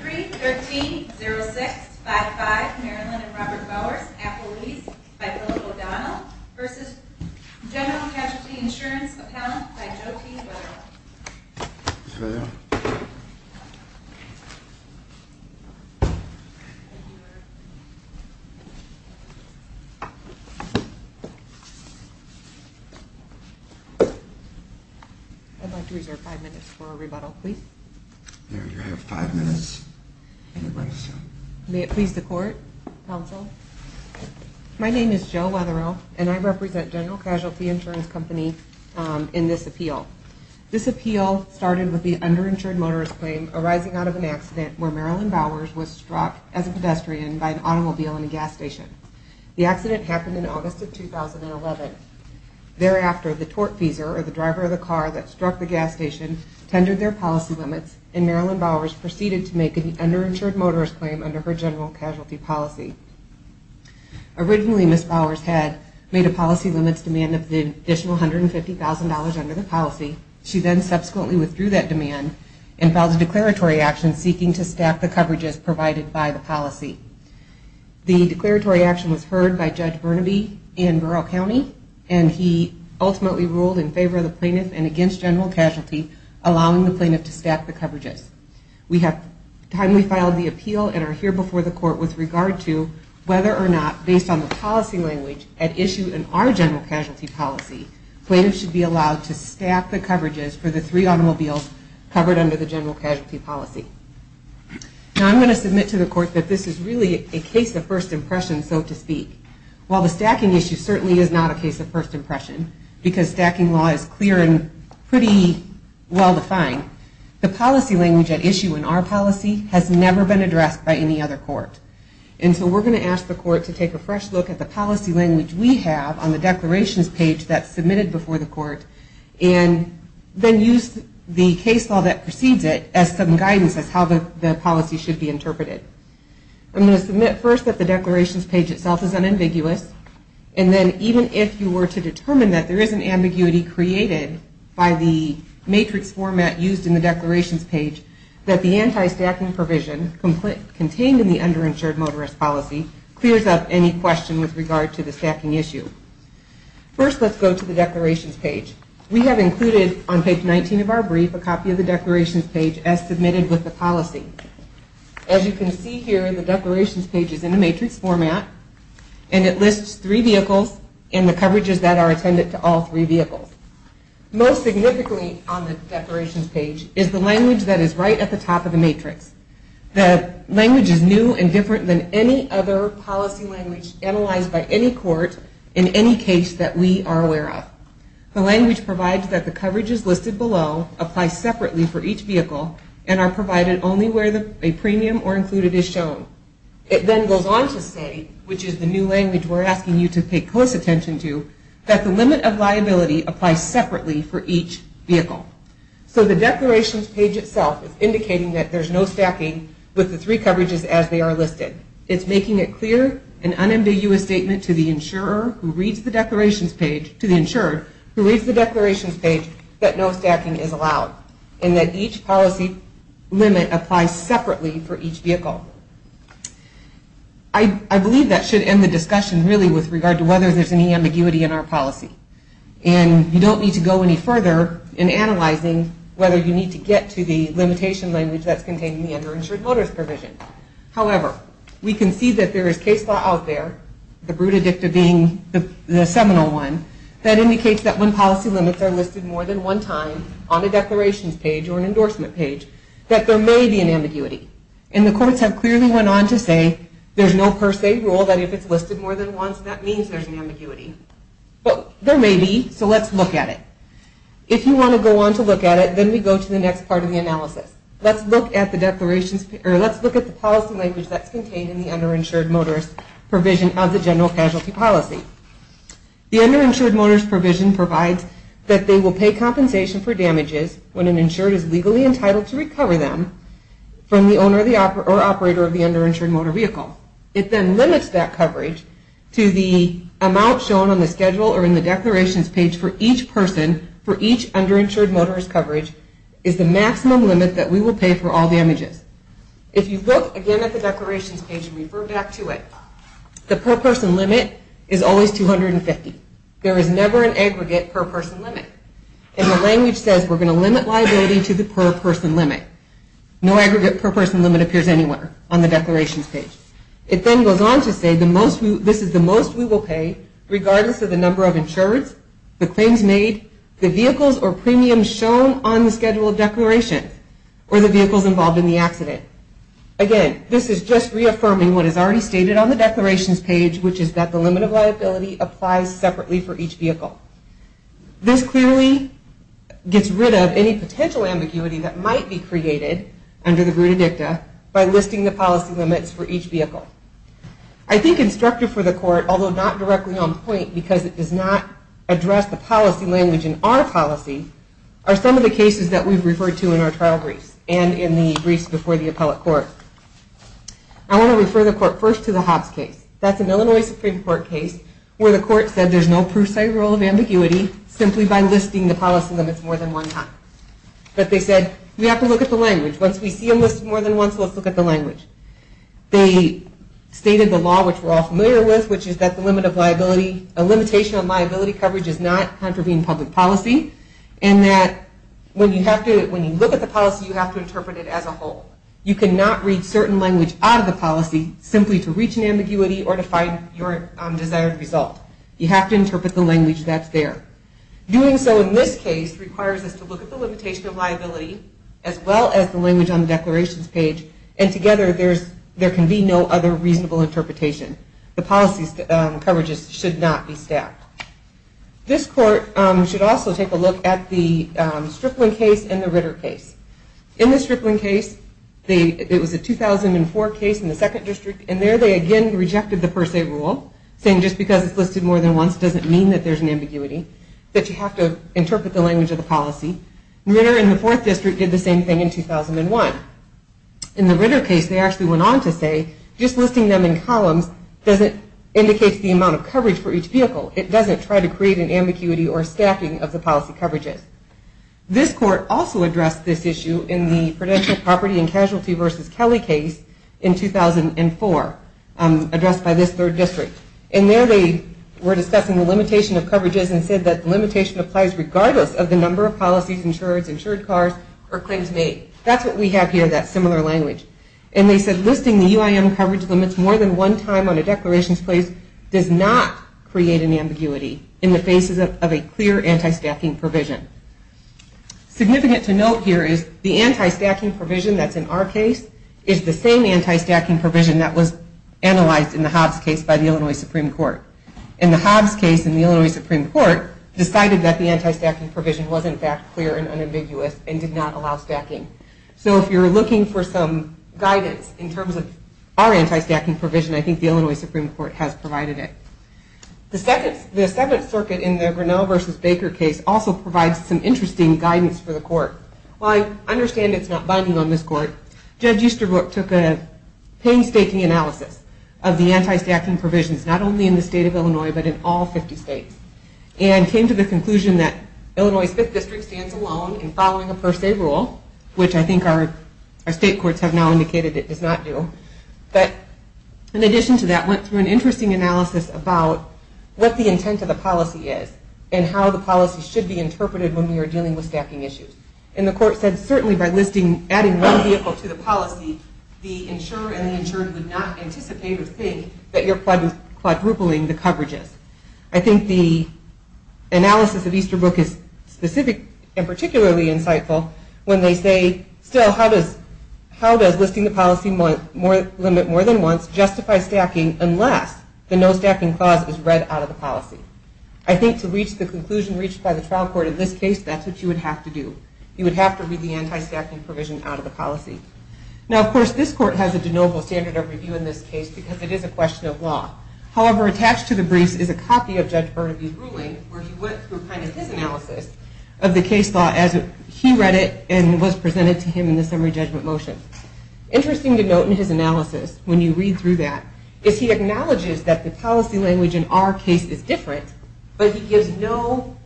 313-0655, Marilyn and Robert Bowers, after lease, by Philip O'Donnell v. General Casualty Insurance Appellant by Joe T. Weatherill May it please the Court, Counsel. My name is Joe Weatherill and I represent General Casualty Insurance Company in this appeal. This appeal started with the underinsured motorist claim arising out of an accident where Marilyn Bowers was struck as a pedestrian by an automobile in a gas station. The accident happened in August of 2011. Thereafter, the tortfeasor, or the driver of the car that struck the gas station, tendered their policy limits and Marilyn Bowers proceeded to make an underinsured motorist claim under her general casualty policy. Originally, Ms. Bowers had made a policy limits demand of the additional $150,000 under the policy. She then subsequently withdrew that demand and filed a declaratory action seeking to stack the coverages provided by the policy. The declaratory action was heard by Judge Burnaby in Burrough County and he ultimately ruled in favor of the plaintiff and against general casualty, allowing the plaintiff to stack the coverages. We have timely filed the appeal and are here before the Court with regard to whether or not, based on the policy language at issue in our general casualty policy, plaintiffs should be allowed to stack the coverages for the three automobiles covered under the general casualty policy. Now I'm going to submit to the Court that this is really a case of first impression, so to speak. While the stacking issue certainly is not a case of first impression, because stacking law is clear and pretty well defined, the And so we're going to ask the Court to take a fresh look at the policy language we have on the declarations page that's submitted before the Court, and then use the case law that precedes it as some guidance as to how the policy should be interpreted. I'm going to submit first that the declarations page itself is unambiguous, and then even if you were to determine that there is an ambiguity created by the matrix format used in the declarations page, that the underinsured motorist policy clears up any question with regard to the stacking issue. First, let's go to the declarations page. We have included on page 19 of our brief a copy of the declarations page as submitted with the policy. As you can see here, the declarations page is in a matrix format, and it lists three vehicles and the coverages that are attended to all three vehicles. Most significantly on the declarations page is the language that is right at the top of the matrix. The language is new and different than any other policy language analyzed by any court in any case that we are aware of. The language provides that the coverages listed below apply separately for each vehicle and are provided only where a premium or included is shown. It then goes on to state, which is the new language we're asking you to pay close attention to, that the limit of liability applies separately for each vehicle. So the language is that there's no stacking with the three coverages as they are listed. It's making it clear, an unambiguous statement to the insurer who reads the declarations page, to the insured who reads the declarations page, that no stacking is allowed and that each policy limit applies separately for each vehicle. I believe that should end the discussion really with regard to whether there's any ambiguity in our policy. And you don't need to go any further in analyzing whether you need to get to the limitation language that's contained in the underinsured motorist provision. However, we can see that there is case law out there, the bruta dicta being the seminal one, that indicates that when policy limits are listed more than one time on a declarations page or an endorsement page, that there may be an ambiguity. And the courts have clearly went on to say there's no per se rule that if it's If you want to go on to look at it, then we go to the next part of the analysis. Let's look at the policy language that's contained in the underinsured motorist provision of the general casualty policy. The underinsured motorist provision provides that they will pay compensation for damages when an insured is legally entitled to recover them from the owner or operator of the underinsured motor vehicle. It then limits that each underinsured motorist coverage is the maximum limit that we will pay for all the damages. If you look again at the declarations page and refer back to it, the per person limit is always 250. There is never an aggregate per person limit. And the language says we're going to limit liability to the per person limit. No aggregate per person limit appears anywhere on the declarations page. It then goes on to say this is the most we will pay regardless of the number of insureds, the claims made, the vehicles or premiums shown on the schedule of declarations, or the vehicles involved in the accident. Again, this is just reaffirming what is already stated on the declarations page, which is that the limit of liability applies separately for each vehicle. This clearly gets rid of any potential ambiguity that might be created under the because it does not address the policy language in our policy are some of the cases that we've referred to in our trial briefs and in the briefs before the appellate court. I want to refer the court first to the Hobbs case. That's an Illinois Supreme Court case where the court said there's no precise rule of ambiguity simply by listing the policy limits more than one time. But they said we have to look at the language. Once we see them which is that the limit of liability, a limitation of liability coverage does not contravene public policy and that when you look at the policy, you have to interpret it as a whole. You cannot read certain language out of the policy simply to reach an ambiguity or to find your desired result. You have to interpret the language that's there. Doing so in this case requires us to look at the limitation of liability as well as the language on the interpretation. The policy coverages should not be staffed. This court should also take a look at the Strickland case and the Ritter case. In the Strickland case, it was a 2004 case in the 2nd district and there they again rejected the per se rule saying just because it's listed more than once doesn't mean that there's an ambiguity, that you have to interpret the language of the policy. Ritter in the 4th district did the same thing in indicates the amount of coverage for each vehicle. It doesn't try to create an ambiguity or staffing of the policy coverages. This court also addressed this issue in the prudential property and casualty versus Kelly case in 2004 addressed by this 3rd district. And there they were discussing the limitation of coverages and said that the limitation applies regardless of the number of policies, insured cars or claims made. That's what we have here, that similar language. And they said listing the UIM coverage limits more than one time on a declarations place does not create an ambiguity in the faces of a clear anti-stacking provision. Significant to note here is the anti-stacking provision that's in our case is the same anti-stacking provision that was analyzed in the Hobbs case by the Illinois Supreme Court. In the Hobbs case, the Illinois Supreme Court decided that the anti-stacking provision was in fact clear and unambiguous and did not allow stacking. So if you're looking for some guidance in terms of our anti-stacking provision, I think the Illinois Supreme Court has provided it. The 7th circuit in the Grinnell versus Baker case also provides some interesting guidance for the court. While I understand it's not binding on this court, Judge Easterbrook took a painstaking analysis of the conclusion that Illinois' 5th district stands alone in following a per se rule, which I think our state courts have now indicated it does not do. But in addition to that, went through an interesting analysis about what the intent of the policy is and how the policy should be interpreted when we are dealing with stacking issues. And the court said certainly by listing, adding one vehicle to the policy, the insurer and the insured would not The analysis of Easterbrook is specific and particularly insightful when they say still how does listing the policy limit more than once justify stacking unless the no-stacking clause is read out of the policy. I think to reach the conclusion reached by the trial court in this case, that's what you would have to do. You would have to read the anti-stacking provision out of the policy. Now of course this court has a de novo standard of review in this case because it is a kind of his analysis of the case law as he read it and was presented to him in the summary judgment motion. Interesting to note in his analysis when you read through that, is he acknowledges that the policy language in our case is different, but he gives no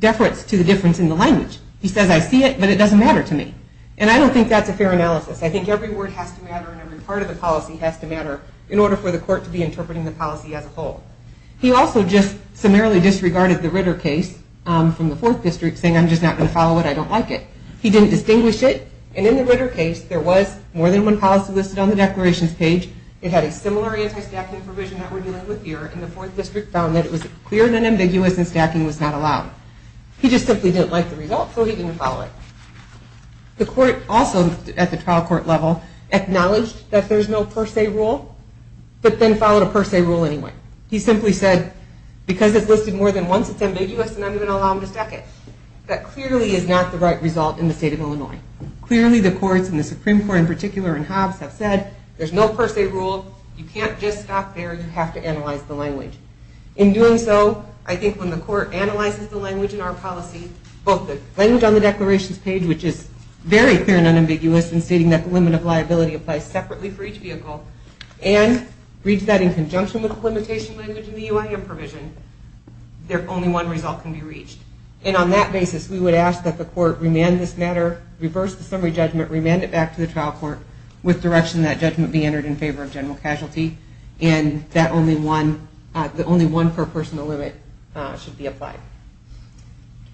deference to the difference in the language. He says I see it, but it doesn't matter to me. And I don't think that's a fair analysis. I think every word has to matter and every part of the policy has to matter. He disregarded the Ritter case from the 4th district saying I'm just not going to follow it, I don't like it. He didn't distinguish it and in the Ritter case there was more than one policy listed on the declarations page. It had a similar anti-stacking provision that we're dealing with here and the 4th district found that it was clear and ambiguous and stacking was not allowed. He just simply didn't like the result so he didn't follow it. The court also at the time said once it's ambiguous, then I'm going to allow him to stack it. That clearly is not the right result in the state of Illinois. Clearly the courts and the Supreme Court in particular and Hobbs have said there's no per se rule, you can't just stop there, you have to analyze the language. In doing so, I think when the court analyzes the language in our policy, both the language on the declarations page which is very clear and unambiguous in stating that the limit of liability applies separately for each vehicle and reads that in conjunction with the limitation language in the UIM provision, there only one result can be reached. And on that basis, we would ask that the court remand this matter, reverse the summary judgment, remand it back to the trial court with direction that judgment be entered in favor of general casualty and that only one, the only one per person limit should be applied.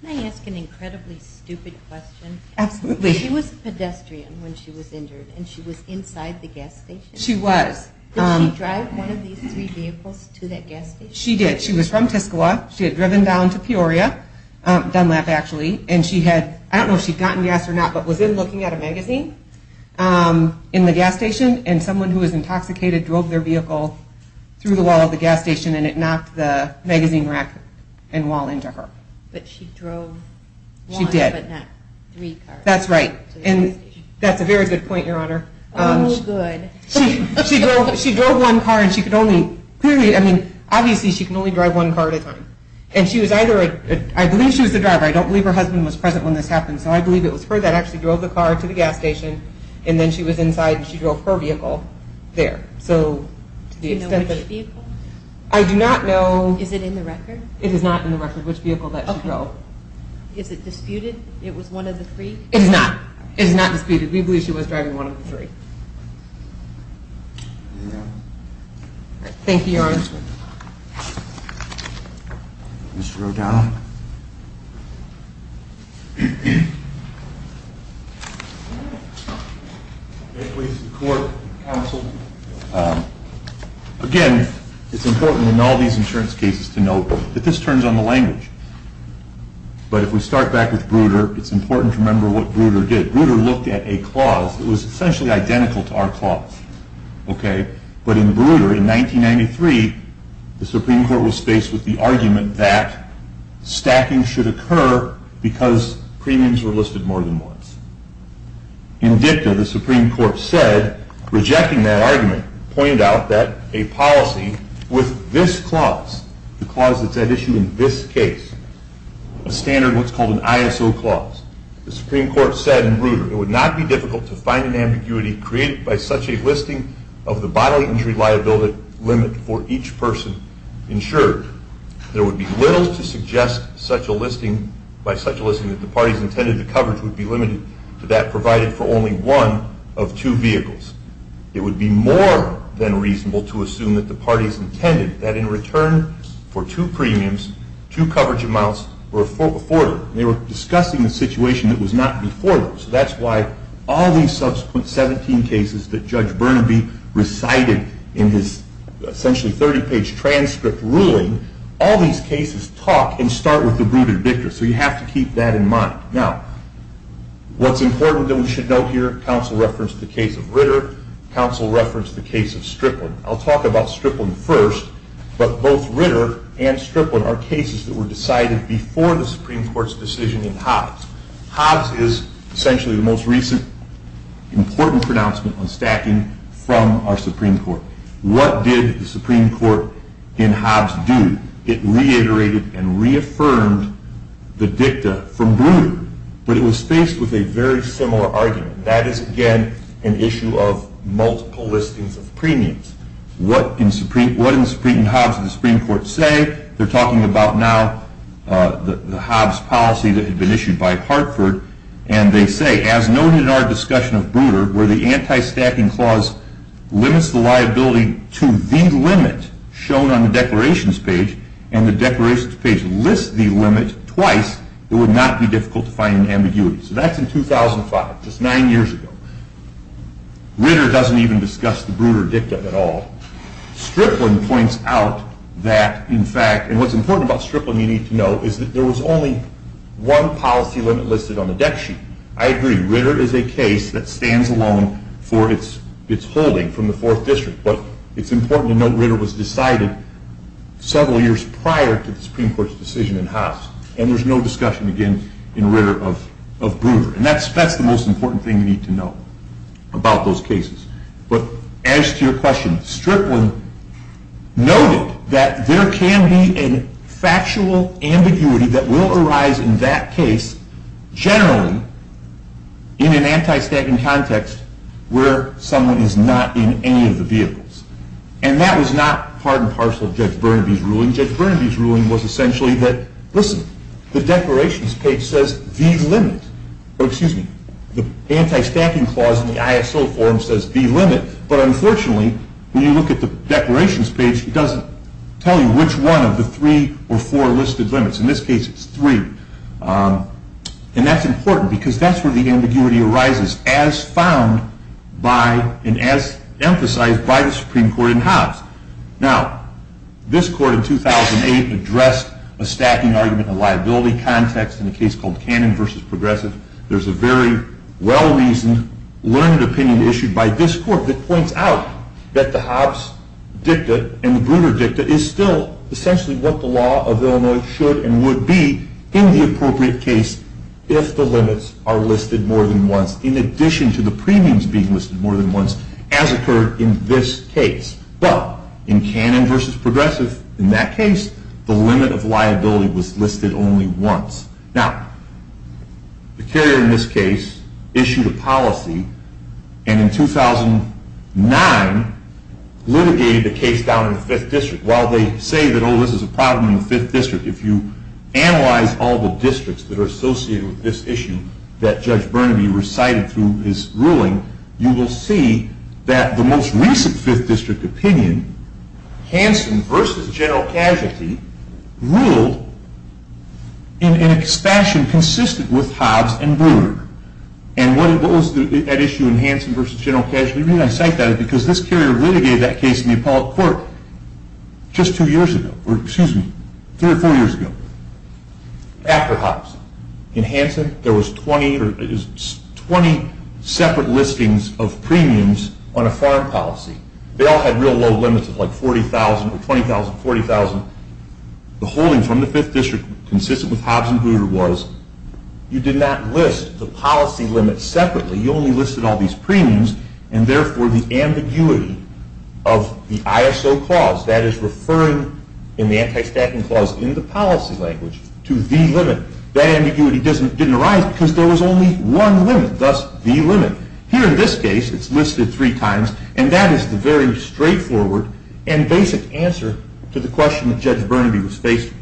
Can I ask an incredibly stupid question? Absolutely. She was a pedestrian when she was injured and she was inside the gas station? She was. Did she drive one of these three vehicles to that gas station? She did. She was from Tiscawa. She had driven down to Peoria, Dunlap actually, and she had, I don't know if she had gotten gas or not, but was in looking at a magazine in the gas station and someone who was intoxicated drove their vehicle through the wall of the gas station and it knocked the magazine rack and wall into her. But she drove one but not three cars? That's right. And that's a very good point, your honor. Oh, good. She drove one car and she could only, clearly, I mean, obviously she could only drive one car at a time. And she was either, I believe she was the driver, I don't believe her husband was present when this happened, so I believe it was her that actually drove the car to the gas station and then she was inside and she drove her vehicle there. Do you know which vehicle? I do not know. Is it in the record? It is not in the record. It is not in the record. Okay. Thank you, your honor. Mr. O'Donnell. Again, it's important in all these insurance cases to note that this turns on the language, but if we start back with what Breuder did. Breuder looked at a clause that was essentially identical to our clause, but in Breuder, in 1993, the Supreme Court was faced with the argument that stacking should occur because premiums were listed more than once. In DICTA, the Supreme Court said, rejecting that argument, pointed out that a policy with this clause, the clause that's at issue in this case, a standard what's called an ISO clause, the Supreme Court said in Breuder, it would not be difficult to find an ambiguity created by such a listing of the bodily injury liability limit for each person insured. There would be little to suggest by such a listing that the parties intended the coverage would be limited to that provided for only one of two vehicles. It would be more than reasonable to assume that the parties intended that in return for two premiums, two coverage amounts were afforded. They were discussing a situation that was not before those. That's why all these subsequent 17 cases that Judge Burnaby recited in his essentially 30-page transcript ruling, all these cases talk and start with the Breuder DICTA, so you have to keep that in mind. Now, what's important that we should note here, counsel referenced the case of Ritter, counsel referenced the case of Strickland. I'll talk about Strickland first, but both Ritter and Strickland are cases that were decided before the Supreme Court's decision in Hobbs. Hobbs is essentially the most recent important pronouncement on stacking from our Supreme Court. What did the Supreme Court in Hobbs do? It reiterated and reaffirmed the DICTA from Breuder, but it was faced with a very similar argument. That is, again, an issue of multiple listings of premiums. What did the Supreme Court in Hobbs say? They're talking about now the Hobbs policy that had been issued by Hartford, and they say, as noted in our discussion of Breuder, where the anti-stacking clause limits the liability to the limit shown on the declarations page, and the declarations page lists the limit twice, it would not be difficult to find an ambiguity. So that's in 2005, just nine years ago. Ritter doesn't even discuss the Breuder DICTA at all. Strickland points out that, in fact, and what's important about Strickland you need to know is that there was only one policy limit listed on the DEC sheet. I agree, Ritter is a case that stands alone for its holding from the Fourth District, but it's important to note Ritter was decided several years prior to the Supreme Court's decision in Hobbs, and there's no discussion, again, in Ritter of Breuder. And that's the most important thing you need to know about those cases. But as to your question, Strickland noted that there can be a factual ambiguity that will arise in that case generally in an anti-stacking context where someone is not in any of the vehicles. And that was not part and parcel of Judge Burnaby's ruling. Judge Burnaby's ruling was essentially that, listen, the declarations page says the limit, or excuse me, the anti-stacking clause in the ISO form says the limit, but unfortunately when you look at the declarations page it doesn't tell you which one of the three or four listed limits. In this case it's three. And that's important because that's where the ambiguity arises, as found by and as emphasized by the Supreme Court in Hobbs. Now, this Court in 2008 addressed a stacking argument in a liability context in a case called Cannon v. Progressive. There's a very well-reasoned, learned opinion issued by this Court that points out that the Hobbs dicta and the Breuder dicta is still essentially what the law of Illinois should and would be in the appropriate case if the limits are listed more than once, in addition to the premiums being listed more than once, as occurred in this case. But in Cannon v. Progressive, in that case, the limit of liability was listed only once. Now, the carrier in this case issued a policy and in 2009 litigated the case down in the Fifth District. While they say that, oh, this is a problem in the Fifth District, if you analyze all the districts that are associated with this issue that Judge Burnaby recited through his ruling, you will see that the most recent Fifth District opinion, Hanson v. General Casualty, ruled in a fashion consistent with Hobbs and Breuder. And what was that issue in Hanson v. General Casualty? The reason I cite that is because this carrier litigated that case in the Appellate Court just three or four years ago, after Hobbs. In Hanson, there was 20 separate listings of premiums on a foreign policy. They all had real low limits of like $40,000 or $20,000, $40,000. The holding from the Fifth District consistent with Hobbs and Breuder was, you did not list the policy limit separately. You only listed all these premiums and, therefore, the ambiguity of the ISO clause, that is referring in the anti-stacking clause in the policy language to the limit, that ambiguity didn't arise because there was only one limit, thus the limit. Here in this case, it's listed three times, and that is the very straightforward and basic answer to the question that Judge Burnaby was facing.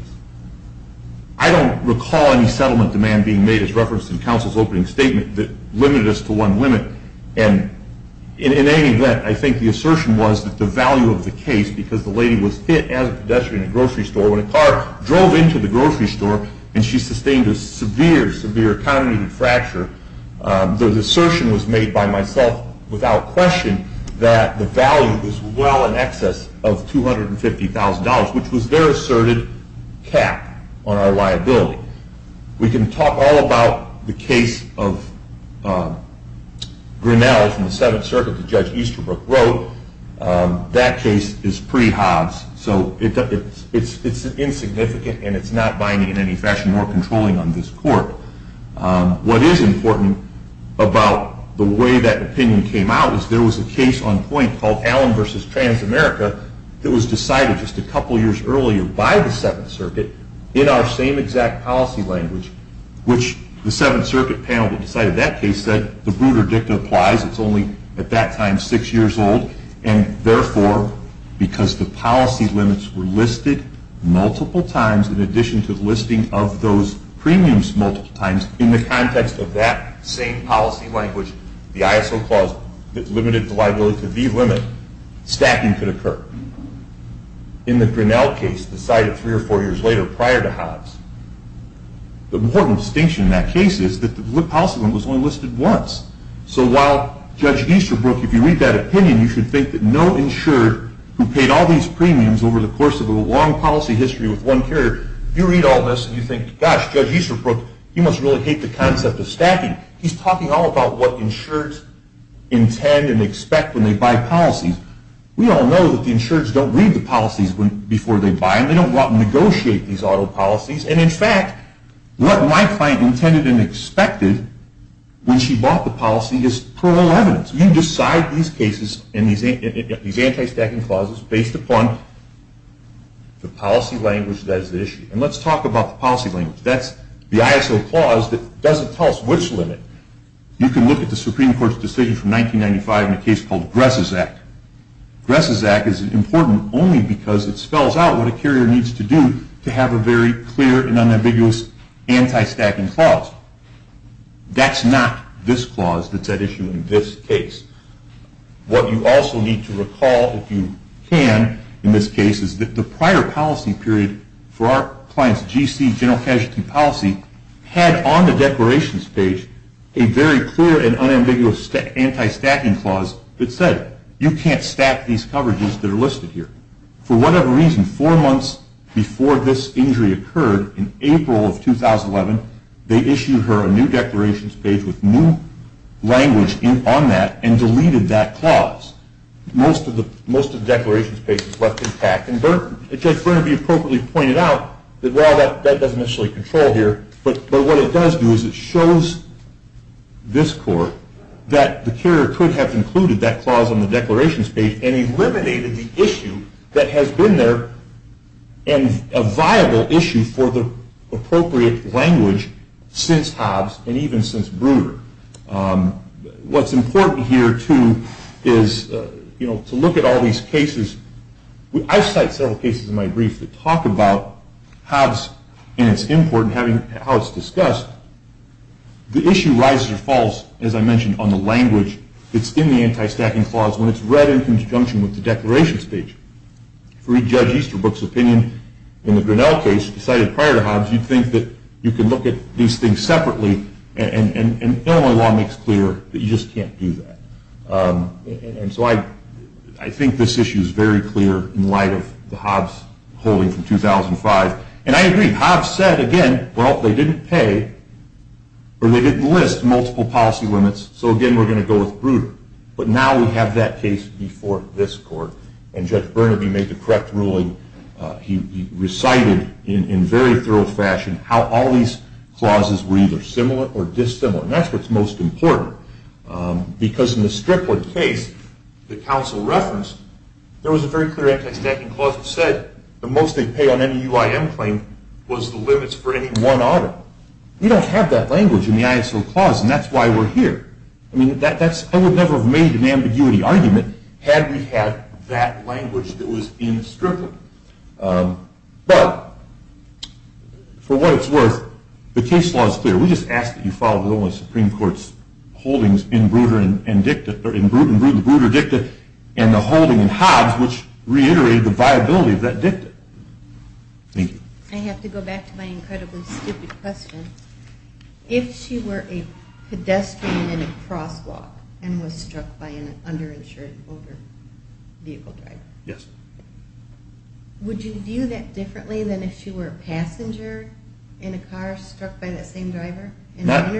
I don't recall any settlement demand being made as referenced in counsel's opening statement that limited us to one limit. In any event, I think the assertion was that the value of the case, because the lady was hit as a pedestrian in a grocery store, when a car drove into the grocery store and she sustained a severe, severe congenital fracture, the assertion was made by myself without question that the value was well in excess of $250,000, which was their asserted cap on our liability. We can talk all about the case of Grinnell from the Seventh Circuit that Judge Easterbrook wrote. That case is pre-Hobbs, so it's insignificant and it's not binding in any fashion or controlling on this court. What is important about the way that opinion came out is there was a case on point called Allen v. Transamerica that was decided just a couple years earlier by the Seventh Circuit in our same exact policy language, which the Seventh Circuit panel that decided that case said the Bruder Dicta applies. It's only at that time six years old, and therefore, because the policy limits were listed multiple times in addition to the listing of those premiums multiple times in the context of that same policy language, the ISO clause that limited the liability to the limit, stacking could occur. In the Grinnell case decided three or four years later prior to Hobbs, the important distinction in that case is that the policy limit was only listed once. So while Judge Easterbrook, if you read that opinion, you should think that no insured who paid all these premiums over the course of a long policy history with one carrier, if you read all this and you think, gosh, Judge Easterbrook, he must really hate the concept of stacking. He's talking all about what insureds intend and expect when they buy policies. We all know that the insureds don't read the policies before they buy them. They don't want to negotiate these auto policies. And, in fact, what my client intended and expected when she bought the policy is parole evidence. You decide these cases and these anti-stacking clauses based upon the policy language that is at issue. And let's talk about the policy language. That's the ISO clause that doesn't tell us which limit. You can look at the Supreme Court's decision from 1995 in a case called Gress's Act. Gress's Act is important only because it spells out what a carrier needs to do to have a very clear and unambiguous anti-stacking clause. That's not this clause that's at issue in this case. What you also need to recall, if you can, in this case, is that the prior policy period for our client's GC, general casualty policy, had on the declarations page a very clear and unambiguous anti-stacking clause that said, you can't stack these coverages that are listed here. For whatever reason, four months before this injury occurred, in April of 2011, they issued her a new declarations page with new language on that and deleted that clause. Most of the declarations pages left intact. And Judge Burnaby appropriately pointed out that while that doesn't necessarily control here, but what it does do is it shows this court that the carrier could have included that clause on the declarations page and eliminated the issue that has been there and a viable issue for the appropriate language since Hobbs and even since Brewer. What's important here, too, is to look at all these cases. I've cited several cases in my brief that talk about Hobbs and its import and how it's discussed. The issue rises or falls, as I mentioned, on the language that's in the anti-stacking clause. When it's read in conjunction with the declarations page. If we read Judge Easterbrook's opinion in the Grinnell case decided prior to Hobbs, you'd think that you can look at these things separately and Illinois law makes clear that you just can't do that. And so I think this issue is very clear in light of the Hobbs holding from 2005. And I agree, Hobbs said, again, well, they didn't pay or they didn't list multiple policy limits, so again, we're going to go with Brewer. But now we have that case before this court. And Judge Burnaby made the correct ruling. He recited in very thorough fashion how all these clauses were either similar or dissimilar. And that's what's most important. Because in the Strickland case that counsel referenced, there was a very clear anti-stacking clause that said the most they'd pay on any UIM claim was the limits for any one audit. Well, we don't have that language in the ISO clause, and that's why we're here. I mean, I would never have made an ambiguity argument had we had that language that was in Strickland. But for what it's worth, the case law is clear. We just ask that you follow the Illinois Supreme Court's holdings in Brewer and Dicta, or in Brewer and Dicta and the holding in Hobbs, which reiterated the viability of that dicta. Thank you. I have to go back to my incredibly stupid question. If she were a pedestrian in a crosswalk and was struck by an underinsured older vehicle driver, would you view that differently than if she were a passenger in a car struck by that same driver in an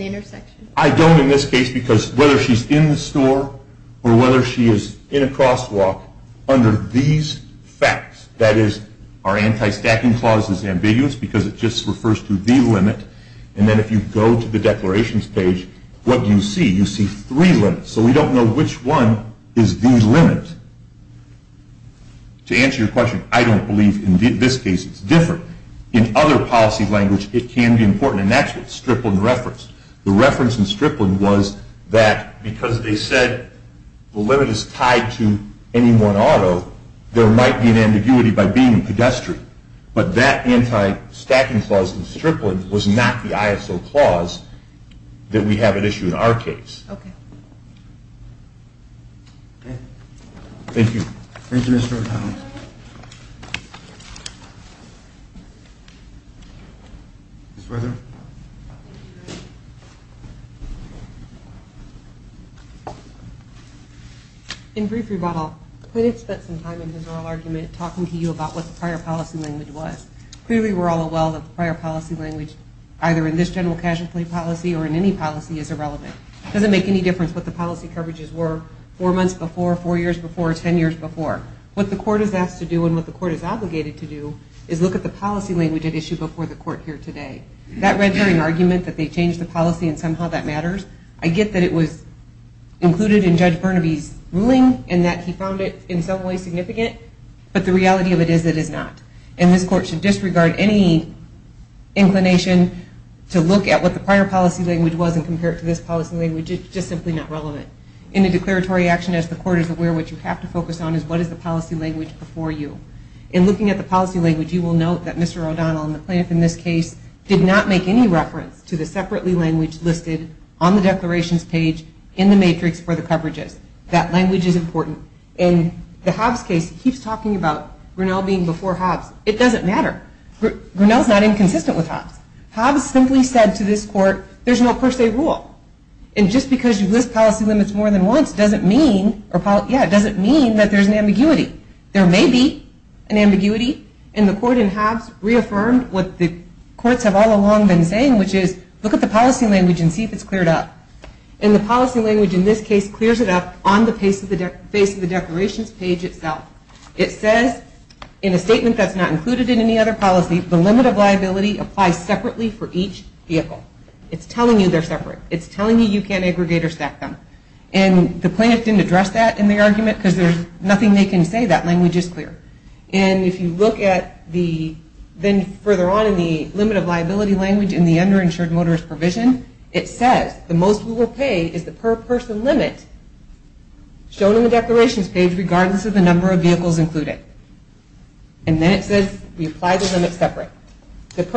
intersection? I don't in this case because whether she's in the store or whether she is in a crosswalk, under these facts, that is, our anti-stacking clause is ambiguous because it just refers to the limit, and then if you go to the declarations page, what do you see? You see three limits, so we don't know which one is the limit. To answer your question, I don't believe in this case it's different. In other policy language, it can be important, and that's what Strickland referenced. The reference in Strickland was that because they said the limit is tied to any one auto, there might be an ambiguity by being a pedestrian, but that anti-stacking clause in Strickland was not the ISO clause that we have at issue in our case. Okay. Thank you. Thank you, Mr. O'Donnell. Thank you. Ms. Weatherly. In brief rebuttal, the plaintiff spent some time in his oral argument talking to you about what the prior policy language was. Clearly, we're all aware that the prior policy language, either in this general casualty policy or in any policy, is irrelevant. It doesn't make any difference what the policy coverages were four months before, four years before, ten years before. What the court is asked to do and what the court is obligated to do is look at the policy language at issue before the court here today. That red herring argument that they changed the policy and somehow that matters, I get that it was included in Judge Burnaby's ruling and that he found it in some way significant, but the reality of it is it is not. And this court should disregard any inclination to look at what the prior policy language was and compare it to this policy language. It's just simply not relevant. In a declaratory action, as the court is aware, what you have to focus on is what is the policy language before you. In looking at the policy language, you will note that Mr. O'Donnell and the plaintiff in this case did not make any reference to the separately language listed on the declarations page in the matrix for the coverages. That language is important. In the Hobbs case, he keeps talking about Grinnell being before Hobbs. It doesn't matter. Grinnell is not inconsistent with Hobbs. Hobbs simply said to this court, there's no per se rule. And just because you list policy limits more than once doesn't mean that there's an ambiguity. There may be an ambiguity, and the court in Hobbs reaffirmed what the courts have all along been saying, which is look at the policy language and see if it's cleared up. And the policy language in this case clears it up on the face of the declarations page itself. It says in a statement that's not included in any other policy, the limit of liability applies separately for each vehicle. It's telling you they're separate. It's telling you you can't aggregate or stack them. And the plaintiff didn't address that in the argument because there's nothing they can say. That language is clear. And if you look at the then further on in the limit of liability language in the underinsured motorist provision, it says the most we will pay is the per person limit shown in the declarations page regardless of the number of vehicles included. And then it says we apply the limit separate. It's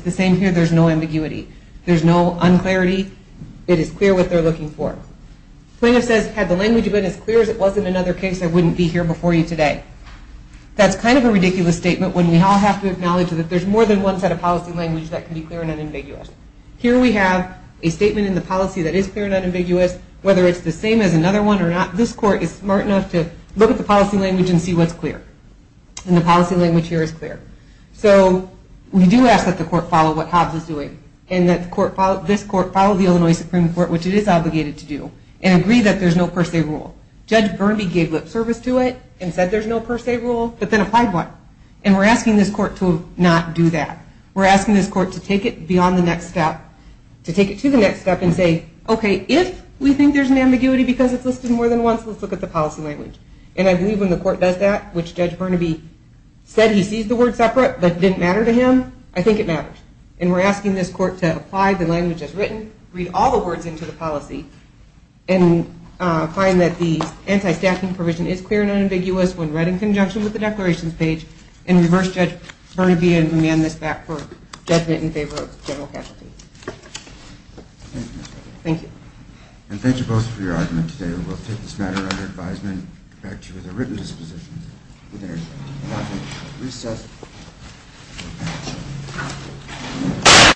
the same here. There's no ambiguity. There's no unclarity. It is clear what they're looking for. Plaintiff says had the language been as clear as it was in another case, I wouldn't be here before you today. That's kind of a ridiculous statement when we all have to acknowledge that there's more than one set of policy language that can be clear and unambiguous. Here we have a statement in the policy that is clear and unambiguous. Whether it's the same as another one or not, this court is smart enough to look at the policy language and see what's clear. And the policy language here is clear. So we do ask that the court follow what Hobbs is doing and that this court follow the Illinois Supreme Court, which it is obligated to do, and agree that there's no per se rule. Judge Burnaby gave lip service to it and said there's no per se rule, but then applied one. And we're asking this court to not do that. We're asking this court to take it beyond the next step, to take it to the next step and say, okay, if we think there's an ambiguity because it's listed more than once, let's look at the policy language. And I believe when the court does that, which Judge Burnaby said he sees the word separate but it didn't matter to him, I think it matters. And we're asking this court to apply the language as written, read all the words into the policy, and find that the anti-staffing provision is clear and unambiguous when read in conjunction with the declarations page and reverse Judge Burnaby and amend this back for judgment in favor of general casualties. Thank you. And thank you both for your argument today. We will take this matter under advisement back to the written dispositions. Good night.